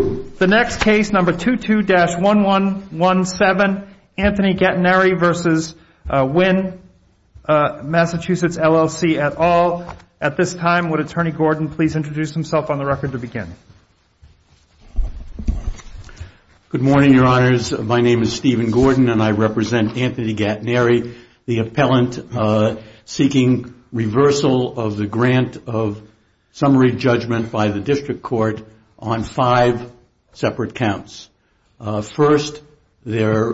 Good morning, your honors. My name is Stephen Gordon and I represent Anthony Gattineri, the appellant seeking reversal of the grant of summary judgment by the district court on five separate counts. First, there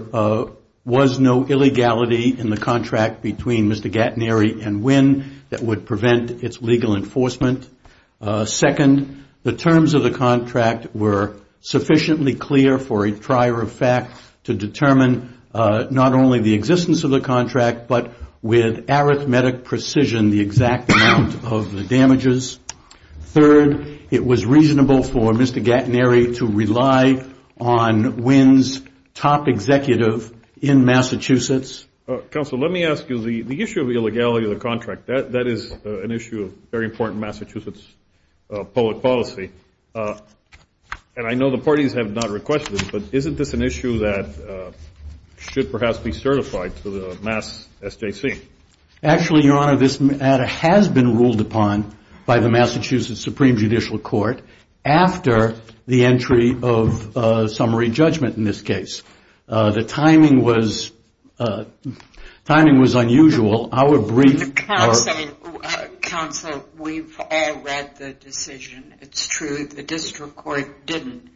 was no illegality in the contract between Mr. Gattineri and Wynn that would prevent its legal enforcement. Second, the terms of the contract were sufficiently clear for a trier of fact to determine not only the existence of the contract, but with Mr. Gattineri to rely on Wynn's top executive in Massachusetts. Counsel, let me ask you, the issue of the illegality of the contract, that is an issue of very important Massachusetts public policy. And I know the parties have not requested it, but isn't this an issue that should perhaps be certified to the mass SJC? Actually, your honor, this matter has been ruled upon by the Massachusetts Supreme Judicial Court after the entry of summary judgment in this case. The timing was unusual. Counsel, we've all read the decision. It's true, the district court didn't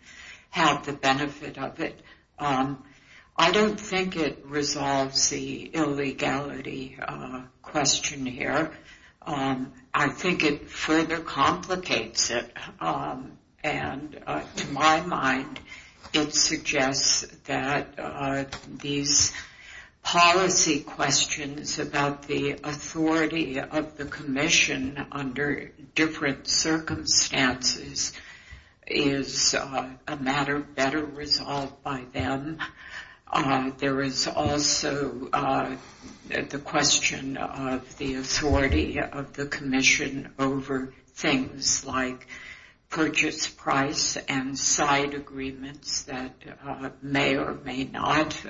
have the benefit of it. I don't think it resolves the illegality question here. I think it further complicates it. And to my mind, it suggests that these policy questions about the authority of the commission under different circumstances is a matter better resolved by them. There is also the question of the authority of the commission over things like the statute of rights, things like purchase price and side agreements that may or may not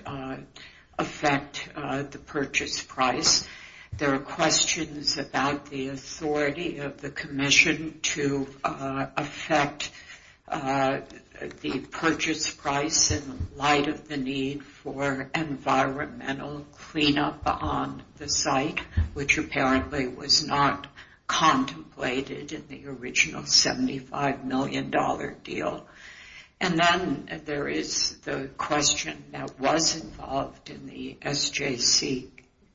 affect the purchase price. There are questions about the authority of the commission to affect the purchase price in light of the need for environmental cleanup on the site, which apparently was not contemplated in the original $75 million deal. And then there is the question that was involved in the SJC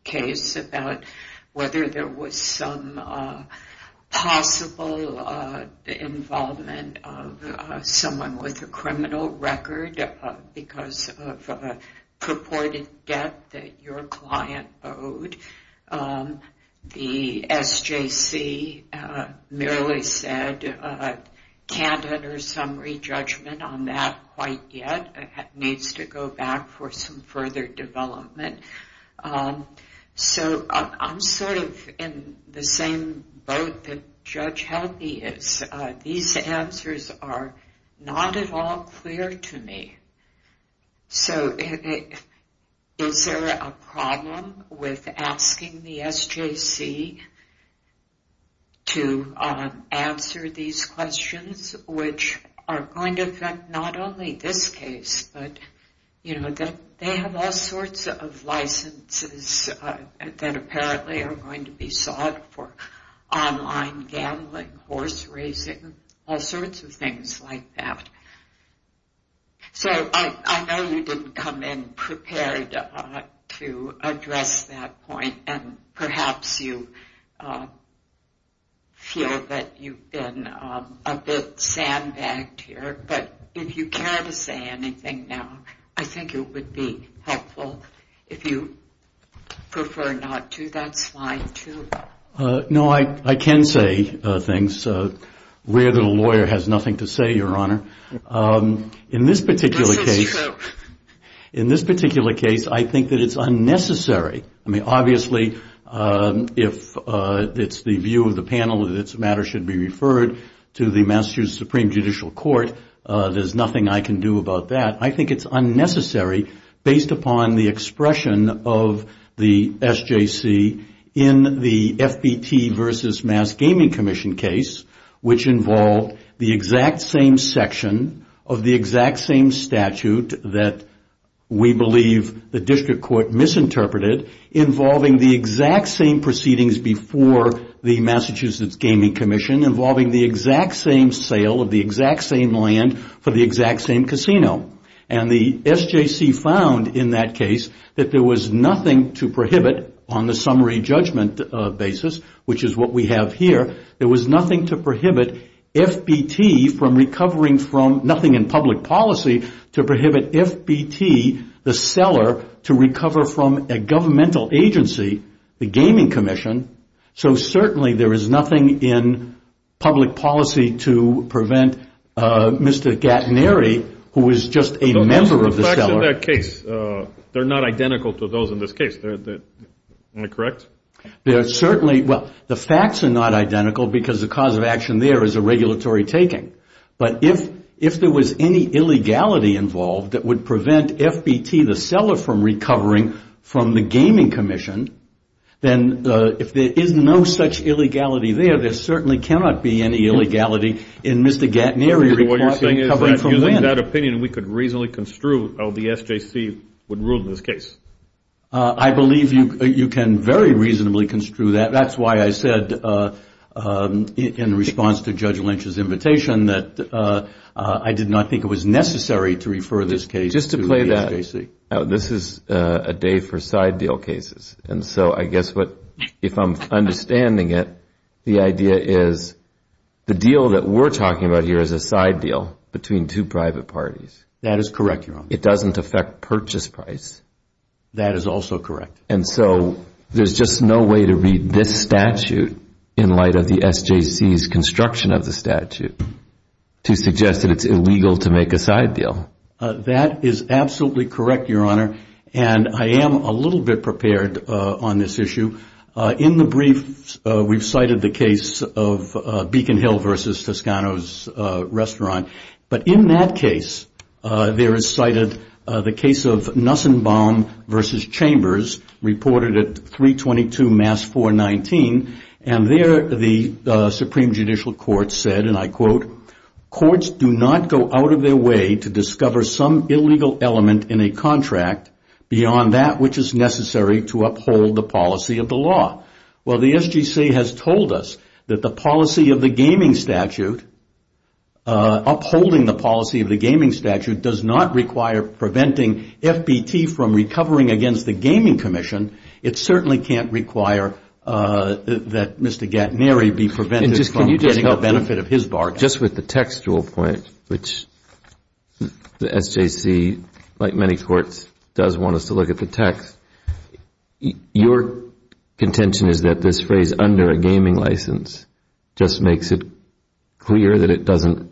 case about whether there was some possible involvement of someone with a criminal record because of a purported debt that your client owed. The question of the SJC merely said, can't utter some re-judgment on that quite yet. It needs to go back for some further development. So I'm sort of in the same boat that Judge Healthy is. These answers are not at all clear to me. So is there a problem with asking the SJC to make a point to answer these questions, which are going to affect not only this case, but they have all sorts of licenses that apparently are going to be sought for online gambling, horse racing, all sorts of things like that. So I know you didn't come in prepared to address that point, and perhaps you feel that you've been a bit sandbagged here, but if you care to say anything now, I think it would be helpful if you prefer not to. That's fine too. No, I can say things. Rare that a lawyer has nothing to say, Your Honor. In this particular case, I think that it's unnecessary. I mean, obviously, if it's the view of the panel that this matter should be referred to the Massachusetts Supreme Judicial Court, there's nothing I can do about that. I think it's unnecessary based upon the expression of the SJC in the FBT versus Mass Gaming Commission case, which involved the exact same section of the exact same statute that we believe the district court misinterpreted, involving the exact same proceedings before the Massachusetts Gaming Commission, involving the exact same sale of the exact same land for the exact same casino. And the SJC found in that case that there was nothing to prohibit on the summary judgment basis, which is what we have here, there was nothing to prohibit FBT from recovering from, nothing in public policy to prohibit FBT, the seller, to recover from a governmental agency, the Gaming Commission. So certainly there is nothing in public policy to prevent Mr. Gattaneri, who is just a member of the seller. Those are the facts in that case. They're not identical to those in this case. Am I correct? Yes. They're certainly, well, the facts are not identical because the cause of action there is a regulatory taking. But if there was any illegality involved that would prevent FBT, the seller, from recovering from the Gaming Commission, then if there is no such illegality there, there certainly cannot be any illegality in Mr. Gattaneri recovering from land. What you're saying is that using that opinion, we could reasonably construe how the SJC would rule in this case. I believe you can very reasonably construe that. That's why I said in response to Judge Lynch's invitation that I did not think it was necessary to refer this case to the SJC. Just to play that out, this is a day for side deal cases. And so I guess if I'm understanding it, the idea is the deal that we're talking about here is a side deal between two private parties. That is correct, Your Honor. It doesn't affect purchase price. That is also correct. And so there's just no way to read this statute in light of the SJC's construction of the statute to suggest that it's illegal to make a side deal. That is absolutely correct, Your Honor. And I am a little bit prepared on this issue. In the brief, we've cited the case of Beacon Hill versus Toscano's Restaurant. But in that case, there is cited the case of Nussenbaum versus Chambers, reported at 322 Mass 419. And there, the Supreme Judicial Court said, and I quote, courts do not go out of their way to discover some illegal element in a contract beyond that which is necessary to uphold the policy of the law. Well, the SJC has told us that the policy of the gaming statute, upholding the policy of the gaming statute, does not require preventing FBT from recovering against the Gaming Commission. It certainly can't require that Mr. Gattaneri be prevented from getting the benefit of his bargain. Just with the textual point, which the SJC, like many courts, does want us to look at the text, your contention is that this phrase, under a gaming license, just makes it clear that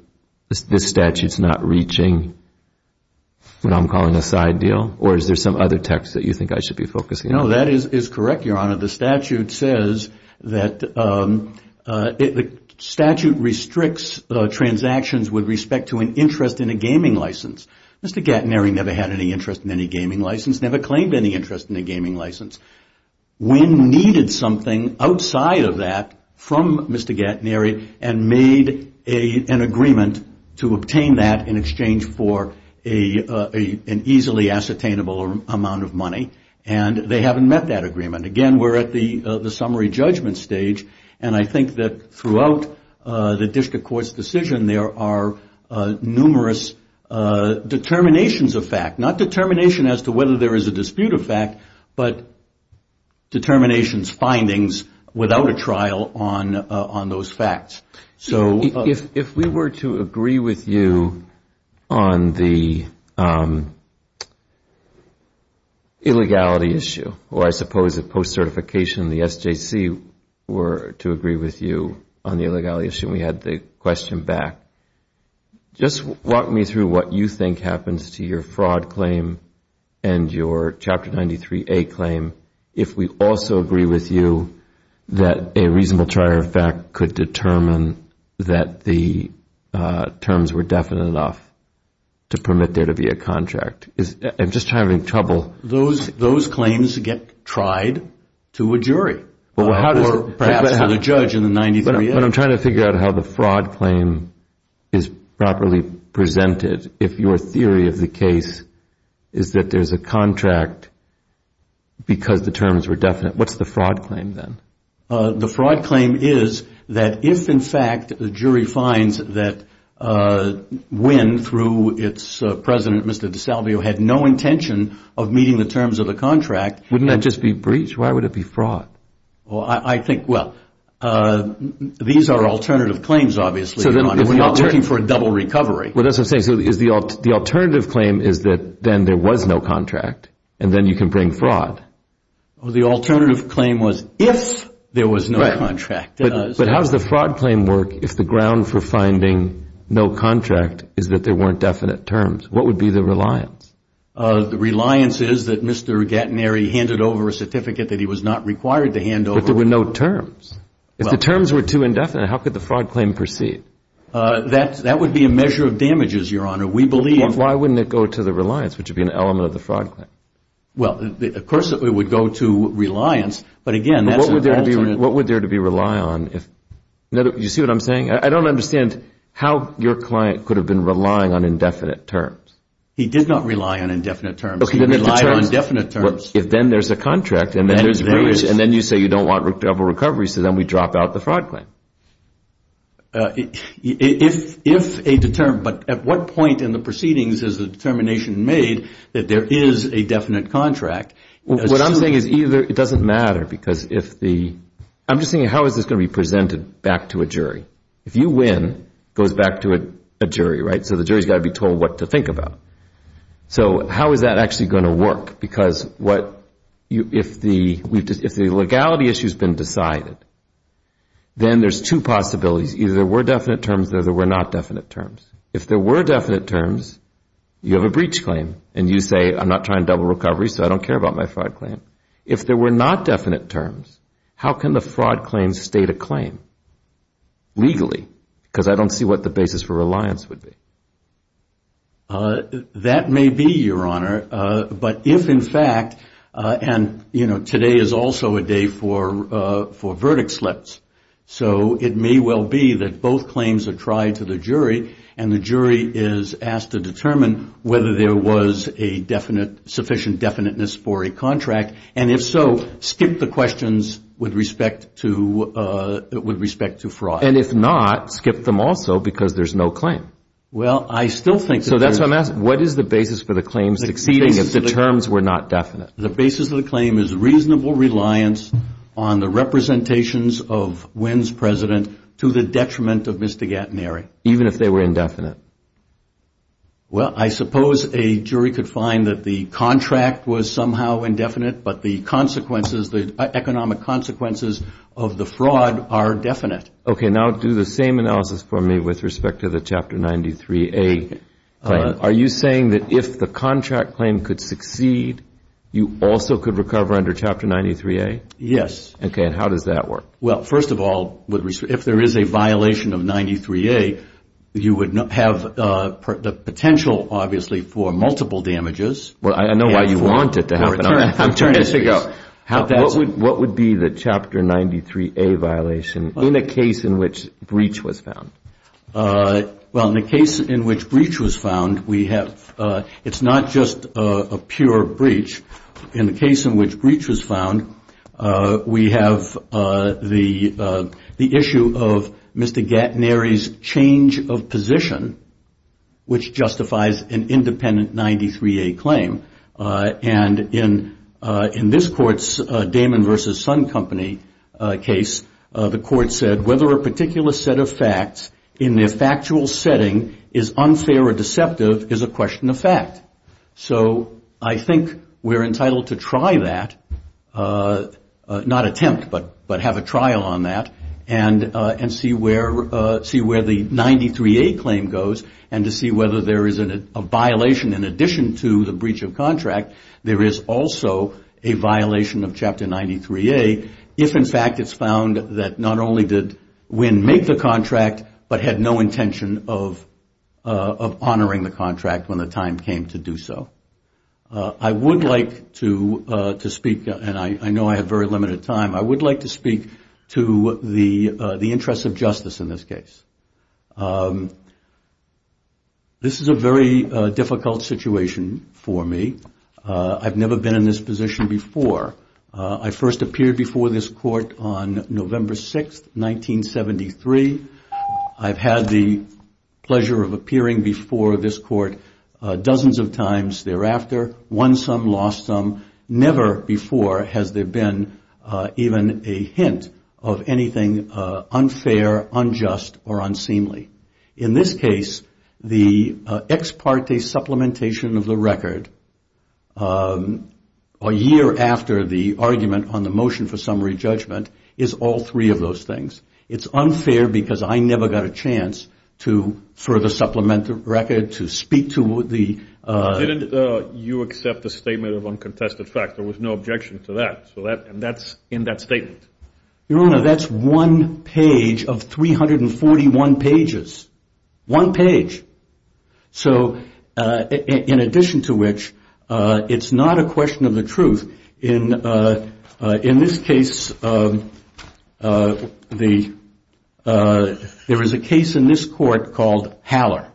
this statute is not reaching what I'm calling a side deal? Or is there some other text that you think I should be focusing on? No, that is correct, Your Honor. The statute says that the statute restricts transactions with respect to an interest in a gaming license. Mr. Gattaneri never had any interest in any gaming license, never claimed any interest in a gaming license. Wynne needed something outside of that from Mr. Gattaneri and made an agreement to obtain that in exchange for an easily ascertainable amount of money, and they haven't met that agreement. Again, we're at the summary judgment stage, and I think that throughout the district court's decision there are numerous determinations of fact. Not determination as to whether there are determinations, findings, without a trial on those facts. So if we were to agree with you on the illegality issue, or I suppose a post-certification, the SJC were to agree with you on the illegality issue, we had the question back. Just walk me through what you think happens to your fraud claim and your Chapter 93A claim if we also agree with you that a reasonable trier of fact could determine that the terms were definite enough to permit there to be a contract. I'm just having trouble. Those claims get tried to a jury, or perhaps to the judge in the 93A. But I'm trying to figure out how the fraud claim is properly presented. If your theory of the case is that there's a contract because the terms were definite, what's the fraud claim then? The fraud claim is that if, in fact, the jury finds that Wynne, through its president, Mr. DeSalvio, had no intention of meeting the terms of the contract... Wouldn't that just be breach? Why would it be fraud? I think, well, these are alternative claims, obviously. We're not looking for a double recovery. So the alternative claim is that then there was no contract, and then you can bring fraud? The alternative claim was if there was no contract. But how does the fraud claim work if the ground for finding no contract is that there weren't definite terms? What would be the reliance? The reliance is that Mr. Gattineri handed over a certificate that he was not required to hand over. But there were no terms. If the terms were too indefinite, how could the fraud claim proceed? That would be a measure of damages, Your Honor. We believe... Why wouldn't it go to the reliance, which would be an element of the fraud claim? Well, of course it would go to reliance, but again, that's an alternate... What would there to be rely on if... You see what I'm saying? I don't understand how your client could have been relying on indefinite terms. He did not rely on indefinite terms. He relied on definite terms. If then there's a contract, and then you say you don't want double recovery, so then we drop out the fraud claim. If a determined... But at what point in the proceedings is the determination made that there is a definite contract? What I'm saying is either... It doesn't matter because if the... I'm just saying how is this going to be presented back to a jury? If you win, it goes back to a jury, right? So the So how is that actually going to work? Because if the legality issue has been decided, then there's two possibilities. Either there were definite terms or there were not definite terms. If there were definite terms, you have a breach claim, and you say, I'm not trying to double recovery, so I don't care about my fraud claim. If there were not definite terms, how can the fraud claim state a claim legally? Because I don't see what the basis for reliance would be. That may be, Your Honor. But if in fact... And today is also a day for verdict slips. So it may well be that both claims are tried to the jury, and the jury is asked to determine whether there was a sufficient definiteness for a contract. And if so, skip the questions with respect to fraud. And if not, skip them also, because there's no claim. Well, I still think... So that's why I'm asking, what is the basis for the claim succeeding if the terms were not definite? The basis of the claim is reasonable reliance on the representations of Wynn's president to the detriment of Mr. Gattineri. Even if they were indefinite? Well, I suppose a jury could find that the contract was somehow indefinite, but the consequences, the economic consequences of the fraud are definite. Okay, now do the same analysis for me with respect to the Chapter 93A claim. Are you saying that if the contract claim could succeed, you also could recover under Chapter 93A? Yes. Okay, and how does that work? Well, first of all, if there is a violation of 93A, you would have the potential, obviously, for multiple damages. Well, I know why you want it to happen. I'm turning to you. What would be the Chapter 93A violation in a case in which breach was found? Well, in a case in which breach was found, we have... It's not just a pure breach. In a case in which breach was found, we have the issue of Mr. Gattineri's change of position, which justifies an independent 93A claim. And in this court's Damon v. Sun Company case, the court said whether a particular set of facts in their factual setting is unfair or deceptive is a question of fact. So I think we're entitled to try that, not attempt, but have a trial on that and see where the 93A claim goes and to see whether there is a violation in addition to the breach of contract. There is also a violation of Chapter 93A if in fact it's found that not only did Winn make the contract, but had no intention of honoring the contract when the time came to do so. I would like to speak, and I know I have very limited time, I would like to speak to the interests of justice in this case. This is a very difficult situation for me. I've never been in this position before. I first appeared before this court on November 6, 1973. I've had the pleasure of appearing before this court dozens of times thereafter, won some, lost some. Never before has there been even a hint of anything unfair, unjust, or unseemly. In this case, the ex parte supplementation of the record a year after the argument on the motion for summary judgment is all three of those things. It's unfair because I never got a chance to further supplement the record, to speak to the... Didn't you accept the statement of uncontested fact? There was no objection to that, and that's in that statement. Your Honor, that's one page of 341 pages. One page. In addition to which, it's not a question of the truth. In this case, there is a question of the truth. There is a question of the truth. There is a case in this court called Haller,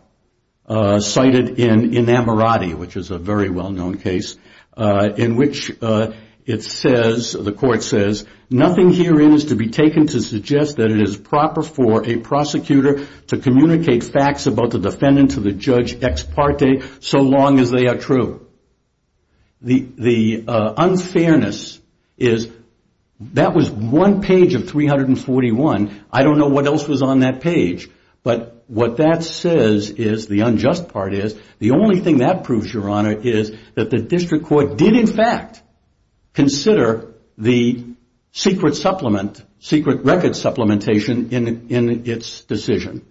cited in Enamorati, which is a very well-known case, in which it says, the court says, nothing herein is to be taken to suggest that it is proper for a prosecutor to communicate facts about the defendant to the judge ex parte so long as they are true. The unfairness is... That was one page of 341. I don't know what else was on that page. But what that says is, the unjust part is, the only thing that proves, Your Honor, is that the district court did in fact consider the secret supplement, secret record supplementation in its decision.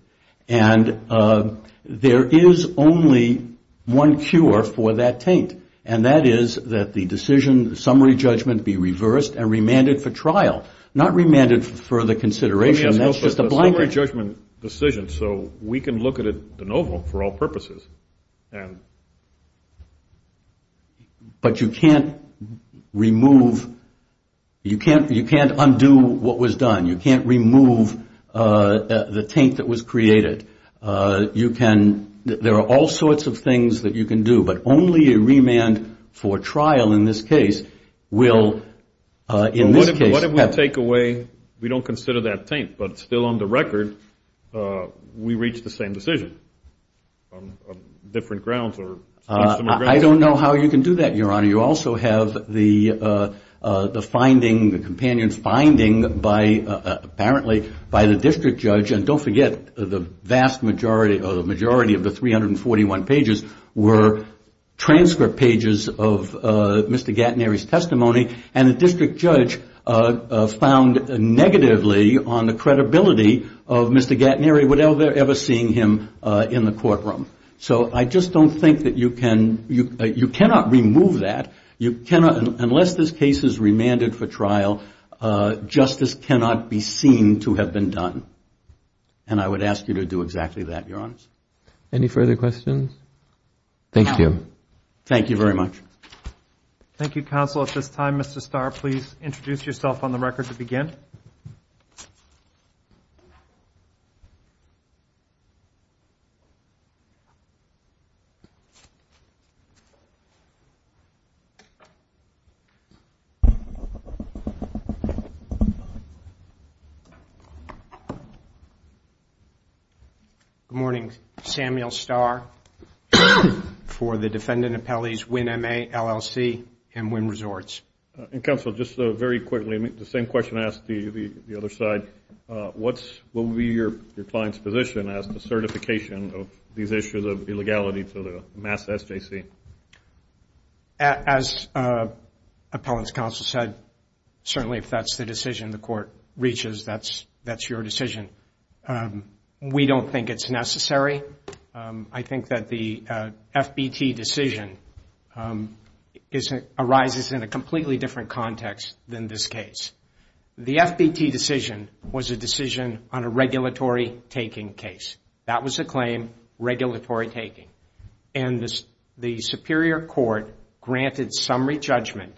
And there is only one cure for that taint, and that is that the decision, the summary judgment be reversed and remanded for trial, not remanded for further consideration. That's just a blanket. Summary judgment decision, so we can look at it de novo for all purposes. But you can't remove, you can't undo what was done. You can't remove the taint that was created. You can, there are all sorts of things that you can do, but only a remand for trial in this case will, in this case... Take away, we don't consider that taint, but still on the record, we reached the same decision on different grounds or... I don't know how you can do that, Your Honor. You also have the finding, the companion's finding by, apparently, by the district judge. And don't forget, the vast majority, the majority of the 341 pages were transcript pages of Mr. Gatnery's testimony, and the district judge found negatively on the credibility of Mr. Gatnery without ever seeing him in the courtroom. So I just don't think that you can, you cannot remove that. You cannot, unless this case is remanded for trial, justice cannot be seen to have been done. And I would ask you to do exactly that, Your Honor. Any further questions? Thank you. Thank you very much. Thank you, counsel. At this time, Mr. Starr, please introduce yourself on the record to begin. Good morning. Samuel Starr for the Defendant Appellees, WINMA, LLC, and WIN Resorts. And, counsel, just very quickly, the same question I asked the other side. What will be your client's position as to certification of these issues of illegality to the Mass SJC? As appellant's counsel said, certainly if that's the decision the court reaches, that's your decision. We don't think it's necessary. I think that the FBT decision arises in a completely different context than this case. The FBT decision was a decision on a regulatory taking case. That was a claim, regulatory taking. And the Superior Court granted summary judgment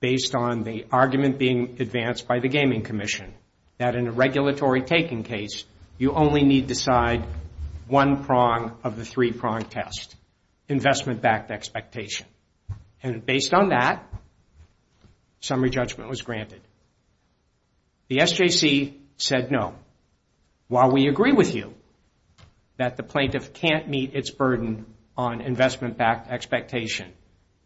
based on the argument being advanced by the Gaming Commission, that in a regulatory taking case, you only need to decide one prong of the three-prong test, investment-backed expectation. And based on that, summary judgment was granted. The SJC said no. While we agree with you that the plaintiff can't meet its burden on investment-backed expectation,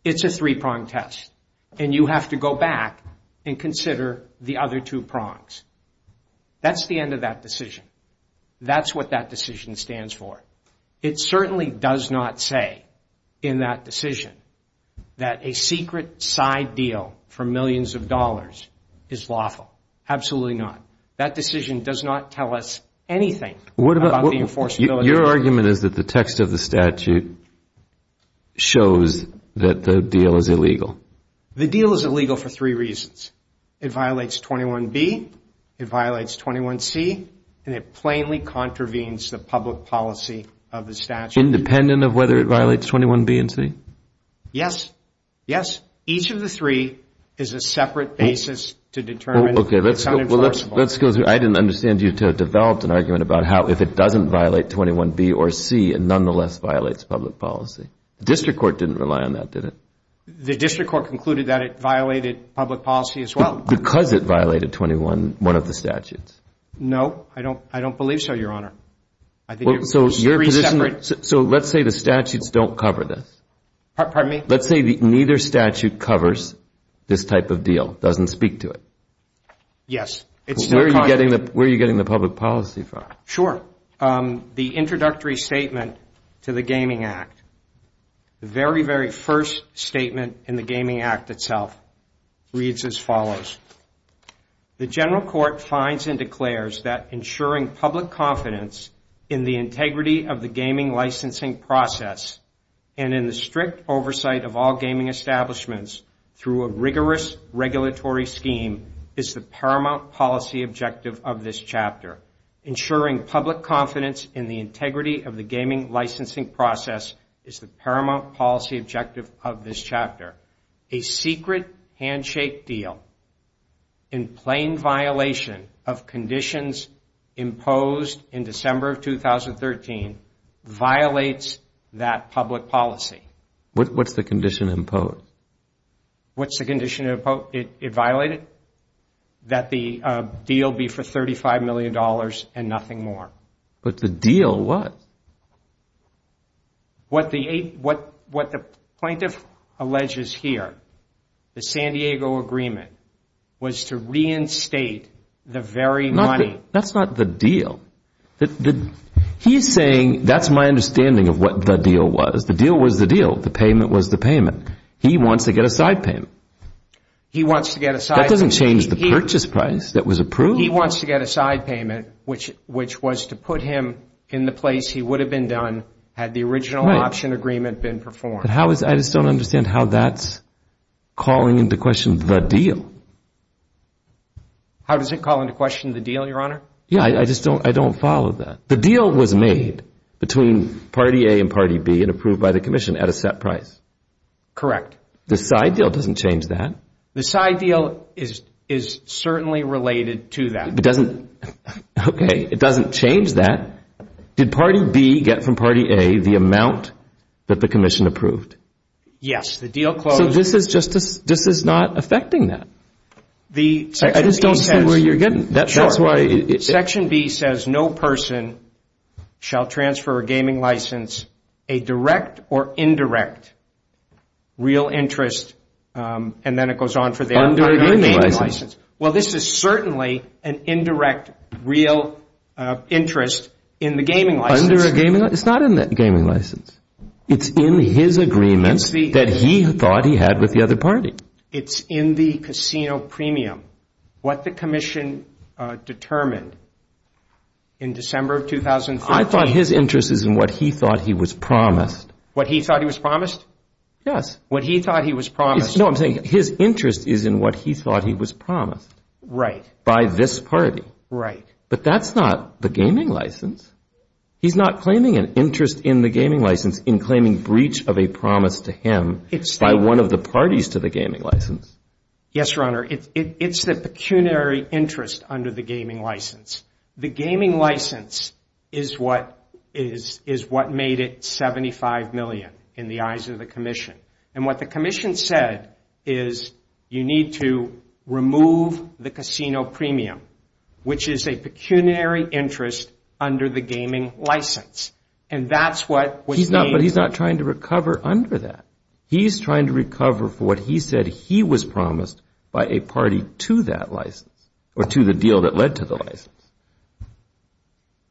it's a three-prong test. And you have to go back and consider the other two prongs. That's the end of that decision. That's what that decision stands for. It certainly does not say in that decision that a secret side deal for millions of dollars is lawful. Absolutely not. That decision does not tell us anything about the enforceability. Your argument is that the text of the statute shows that the deal is illegal. The deal is illegal for three reasons. It violates 21B, it violates 21C, and it plainly contravenes the public policy of the statute. Independent of whether it violates 21B and C? Yes. Yes. Each of the three is a separate basis to determine if it's unenforceable. Okay. Let's go through. I didn't understand you until you developed an argument about how if it doesn't violate 21B or C, it nonetheless violates public policy. The district court didn't rely on that, did it? The district court concluded that it violated public policy as well. Because it violated 21, one of the statutes. No, I don't believe so, Your Honor. I think it was three separate... So let's say the statutes don't cover this. Pardon me? Let's say neither statute covers this type of deal, doesn't speak to it. Yes. Where are you getting the public policy from? Sure. The introductory statement to the Gaming Act, the very, very first statement in the Gaming Act declares that ensuring public confidence in the integrity of the gaming licensing process and in the strict oversight of all gaming establishments through a rigorous regulatory scheme is the paramount policy objective of this chapter. Ensuring public confidence in the integrity of the gaming licensing process is the paramount policy objective of this chapter. A secret handshake deal in plain violation of conditions imposed in December of 2013 violates that public policy. What's the condition imposed? What's the condition it violated? That the deal be for $35 million and nothing more. But the deal was. What the plaintiff alleges here, the San Diego agreement, was to reinstate the very money. That's not the deal. He's saying that's my understanding of what the deal was. The deal was the deal. The payment was the payment. He wants to get a side payment. He wants to get a side payment. That doesn't change the purchase price that was approved. He wants to get a side payment, which was to put him in the place he would have been done had the original option agreement been performed. I just don't understand how that's calling into question the deal. How does it call into question the deal, Your Honor? Yeah, I just don't follow that. The deal was made between party A and party B and approved by the commission at a set price. Correct. The side deal doesn't change that. The side deal is certainly related to that. Okay, it doesn't change that. Did party B get from party A the amount that the commission approved? Yes. The deal closed. So this is not affecting that. I just don't see where you're getting. Section B says no person shall transfer a gaming license, a direct or indirect real interest, and then it goes on for the other gaming license. Well, this is certainly an indirect real interest in the gaming license. It's not in the gaming license. It's in his agreement that he thought he had with the other party. It's in the casino premium. What the commission determined in December of 2013. I thought his interest is in what he thought he was promised. What he thought he was promised? Yes. What he thought he was promised. No, I'm saying his interest is in what he thought he was promised. Right. By this party. Right. But that's not the gaming license. He's not claiming an interest in the gaming license in claiming breach of a promise to him by one of the parties to the gaming license. Yes, Your Honor. It's the pecuniary interest under the gaming license. The gaming license is what made it $75 million in the eyes of the commission. And what the commission said is you need to remove the casino premium, which is a pecuniary interest under the gaming license. And that's what was made. But he's not trying to recover under that. He's trying to recover for what he said he was promised by a party to that license or to the deal that led to the license.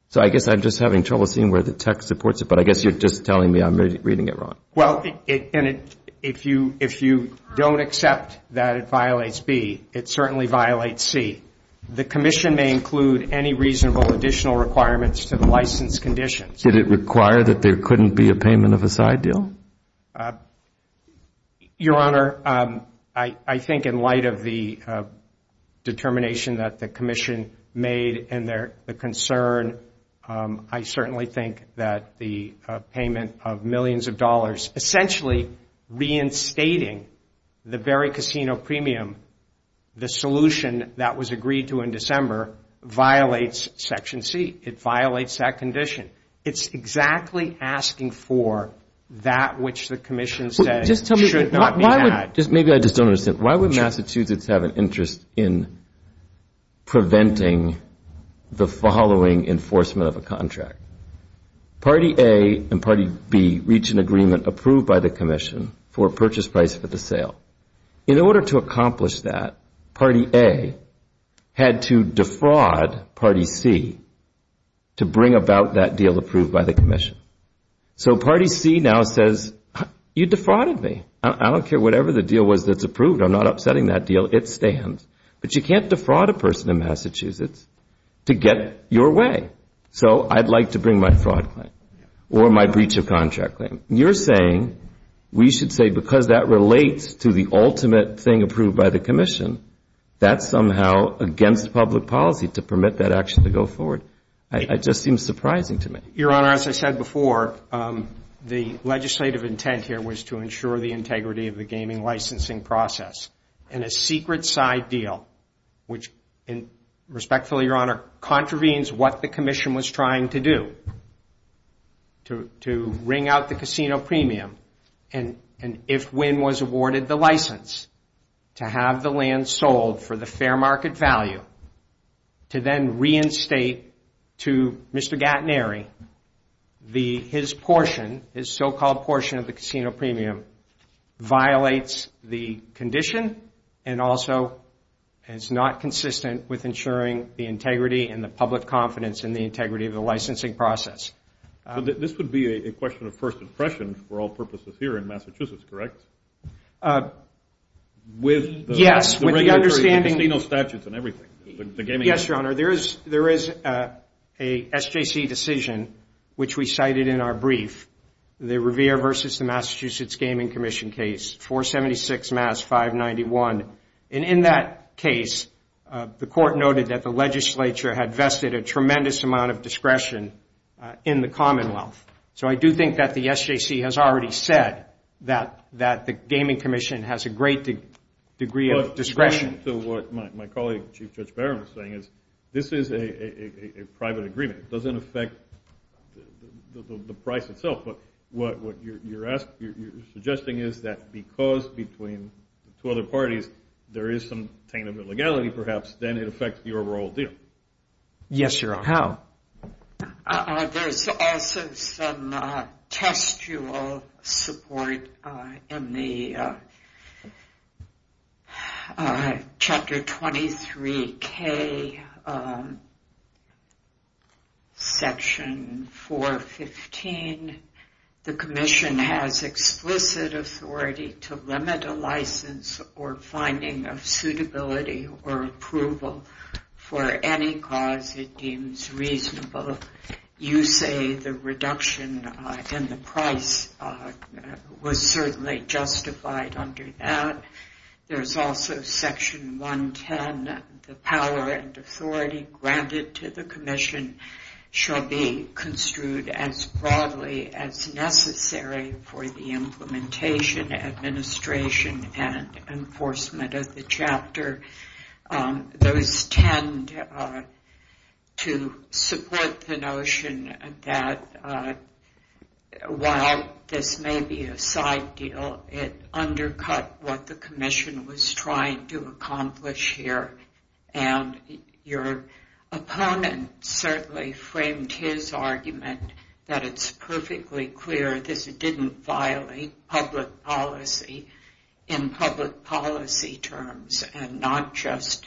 So I guess I'm just having trouble seeing where the text supports it, but I guess you're just telling me I'm reading it wrong. Well, if you don't accept that it violates B, it certainly violates C. The commission may include any reasonable additional requirements to the license conditions. Did it require that there couldn't be a payment of a side deal? Your Honor, I think in light of the determination that the commission made and the concern, I certainly think that the payment of millions of dollars essentially reinstating the very casino premium, the solution that was agreed to in December violates Section C. It violates that condition. It's exactly asking for that which the commission said should not be had. Maybe I just don't understand. Why would Massachusetts have an interest in preventing the following enforcement of a contract? Party A and Party B reach an agreement approved by the commission for a purchase price for the sale. In order to accomplish that, Party A had to defraud Party C to bring about that deal approved by the commission. So Party C now says you defrauded me. I don't care whatever the deal was that's approved. I'm not upsetting that deal. It stands. But you can't defraud a person in Massachusetts to get your way. So I'd like to bring my fraud claim or my breach of contract claim. You're saying we should say because that relates to the ultimate thing approved by the commission, that's somehow against public policy to permit that action to go forward. It just seems surprising to me. Your Honor, as I said before, the legislative intent here was to ensure the integrity of the gaming licensing process. And a secret side deal, which respectfully, Your Honor, contravenes what the commission was trying to do, to wring out the casino premium. And if Wynn was awarded the license to have the land sold for the fair market value, to then reinstate to Mr. Gatnery his portion, his so-called portion of the casino premium, violates the condition and also is not consistent with ensuring the integrity and the public confidence in the integrity of the licensing process. This would be a question of first impression for all purposes here in Massachusetts, correct? Yes. With the understanding of casino statutes and everything. Yes, Your Honor. There is a SJC decision, which we cited in our brief, the Revere versus the Massachusetts Gaming Commission case, 476 Mass. 591. And in that case, the court noted that the legislature had vested a tremendous amount of discretion in the Commonwealth. So I do think that the SJC has already said that the Gaming Commission has a great degree of discretion. To what my colleague, Chief Judge Barron, was saying is this is a private agreement. It doesn't affect the price itself. But what you're suggesting is that because between two other parties there is some attainable legality perhaps, then it affects the overall deal. Yes, Your Honor. How? There's also some textual support in the Chapter 23K, Section 415. The commission has explicit authority to limit a license or finding of suitability or approval for any cause it deems reasonable. You say the reduction in the price was certainly justified under that. There's also Section 110. The power and authority granted to the commission shall be construed as broadly as necessary for the implementation, administration, and enforcement of the chapter. Those tend to support the notion that while this may be a side deal, it undercut what the commission was trying to accomplish here. And your opponent certainly framed his argument that it's perfectly clear this didn't violate public policy in public policy terms and not just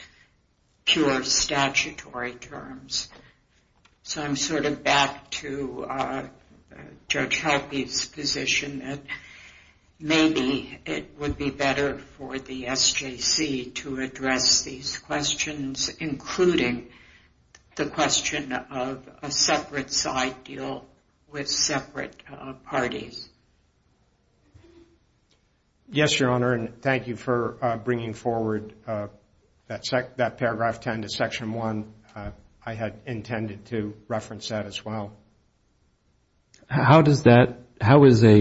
pure statutory terms. So I'm sort of back to Judge Helpe's position that maybe it would be better for the SJC to address these questions, including the question of a separate side deal with separate parties. Yes, Your Honor, and thank you for bringing forward that paragraph 10 to Section 1. I had intended to reference that as well. How is a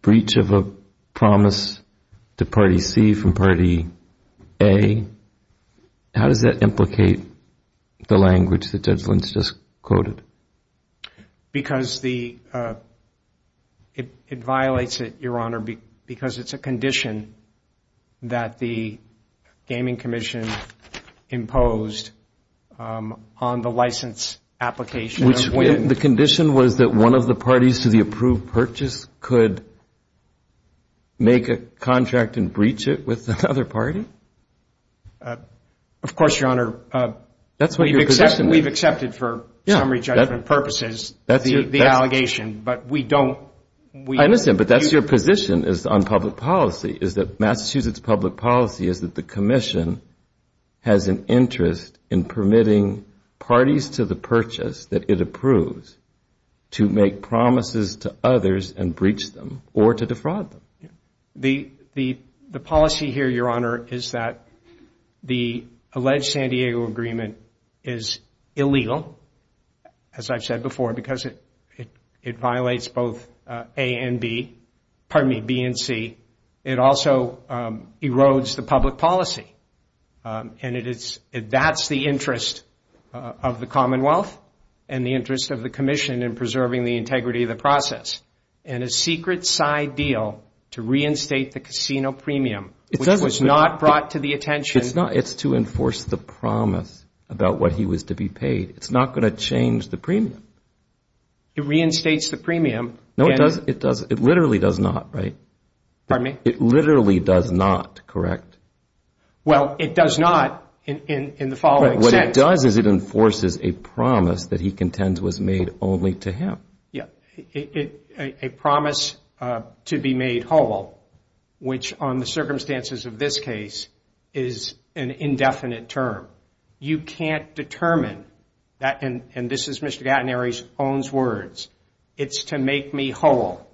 breach of a promise to Party C from Party A, how does that implicate the language that Judge Lentz just quoted? It violates it, Your Honor, because it's a condition that the Gaming Commission imposed on the license application. The condition was that one of the parties to the approved purchase could make a contract and breach it with another party? Of course, Your Honor. That's what your position is. We've accepted for summary judgment purposes the allegation, but we don't. I understand, but that's your position on public policy is that Massachusetts public policy is that the commission has an interest in permitting parties to the purchase that it approves to make promises to others and breach them or to defraud them. The policy here, Your Honor, is that the alleged San Diego agreement is illegal, as I've said before, because it violates both A and B, pardon me, B and C. It also erodes the public policy, and that's the interest of the Commonwealth and the interest of the commission in preserving the integrity of the process. And a secret side deal to reinstate the casino premium, which was not brought to the attention. It's to enforce the promise about what he was to be paid. It's not going to change the premium. It reinstates the premium. No, it does. It literally does not, right? Pardon me? It literally does not, correct? Well, it does not in the following sense. What it does is it enforces a promise that he contends was made only to him. A promise to be made whole, which on the circumstances of this case is an indefinite term. You can't determine, and this is Mr. Gattineri's own words, it's to make me whole.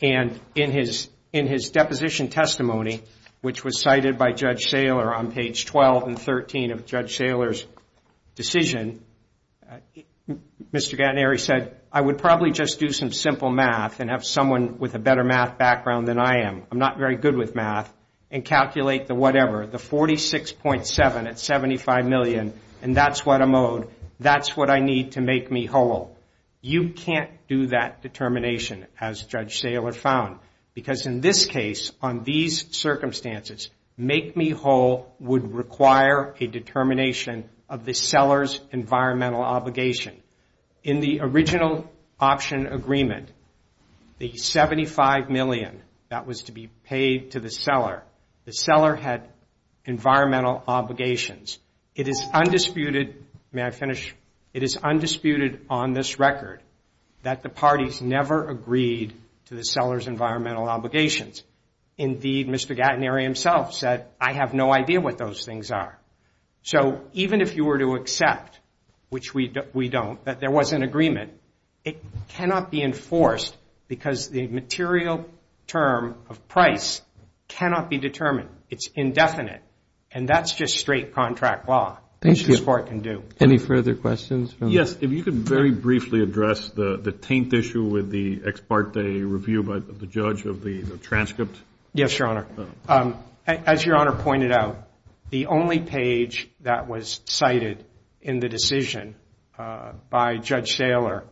And in his deposition testimony, which was cited by Judge Saylor on page 12 and 13 of Judge Saylor's decision, Mr. Gattineri said, I would probably just do some simple math and have someone with a better math background than I am. I'm not very good with math. And calculate the whatever, the 46.7 at $75 million, and that's what I'm owed. That's what I need to make me whole. You can't do that determination, as Judge Saylor found, because in this case, on these circumstances, make me whole would require a determination of the seller's environmental obligation. In the original option agreement, the $75 million that was to be paid to the seller, the seller had environmental obligations. It is undisputed, may I finish, it is undisputed on this record that the parties never agreed to the seller's environmental obligations. Indeed, Mr. Gattineri himself said, I have no idea what those things are. So even if you were to accept, which we don't, that there was an agreement, it cannot be enforced because the material term of price cannot be determined. It's indefinite. And that's just straight contract law, which this Court can do. Thank you. Any further questions? Yes, if you could very briefly address the taint issue with the ex parte review by the judge of the transcript. Yes, Your Honor. As Your Honor pointed out, the only page that was cited in the decision by Judge Saylor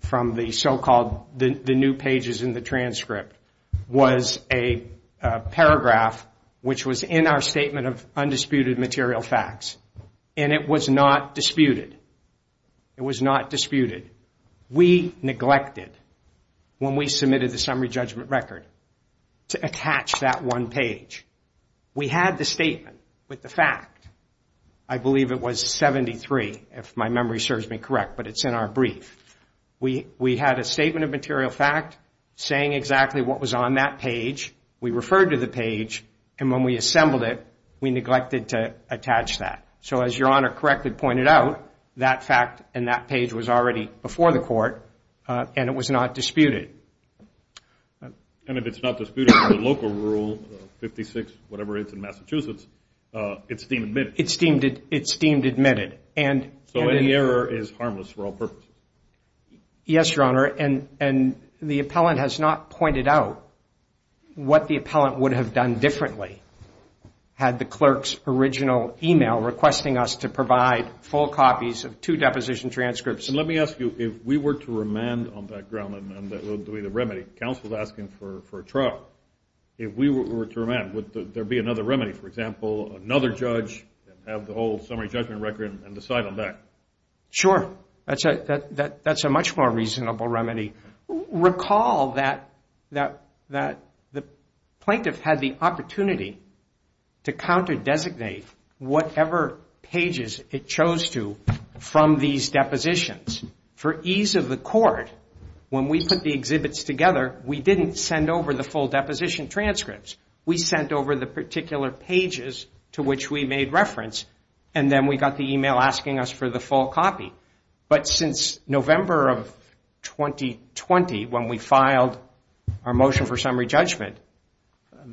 from the so-called new pages in the transcript was a paragraph, which was in our statement of undisputed material facts. And it was not disputed. It was not disputed. We neglected, when we submitted the summary judgment record, to attach that one page. We had the statement with the fact. I believe it was 73, if my memory serves me correct, but it's in our brief. We had a statement of material fact saying exactly what was on that page. We referred to the page, and when we assembled it, we neglected to attach that. So as Your Honor correctly pointed out, that fact and that page was already before the Court, and it was not disputed. And if it's not disputed under the local rule, 56-whatever-it's-in-Massachusetts, it's deemed admitted. It's deemed admitted. So any error is harmless for all purposes. Yes, Your Honor. And the appellant has not pointed out what the appellant would have done differently had the clerk's original email requesting us to provide full copies of two deposition transcripts. And let me ask you, if we were to remand on that ground, and that would be the remedy, counsel's asking for a trial. If we were to remand, would there be another remedy? For example, another judge have the whole summary judgment record and decide on that? Sure. That's a much more reasonable remedy. Recall that the plaintiff had the opportunity to counter-designate whatever pages it chose to from these depositions. For ease of the Court, when we put the exhibits together, we didn't send over the full deposition transcripts. We sent over the particular pages to which we made reference, and then we got the email asking us for the full copy. But since November of 2020, when we filed our motion for summary judgment,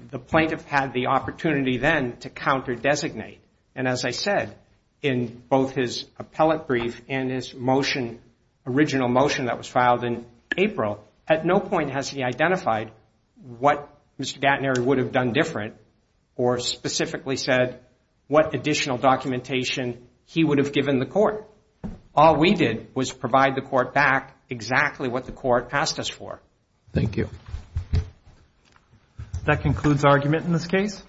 the plaintiff had the opportunity then to counter-designate. And as I said, in both his appellate brief and his motion, original motion that was filed in April, at no point has he identified what Mr. Gatnery would have done different or specifically said what additional documentation he would have given the Court. All we did was provide the Court back exactly what the Court asked us for. Thank you. That concludes our argument in this case.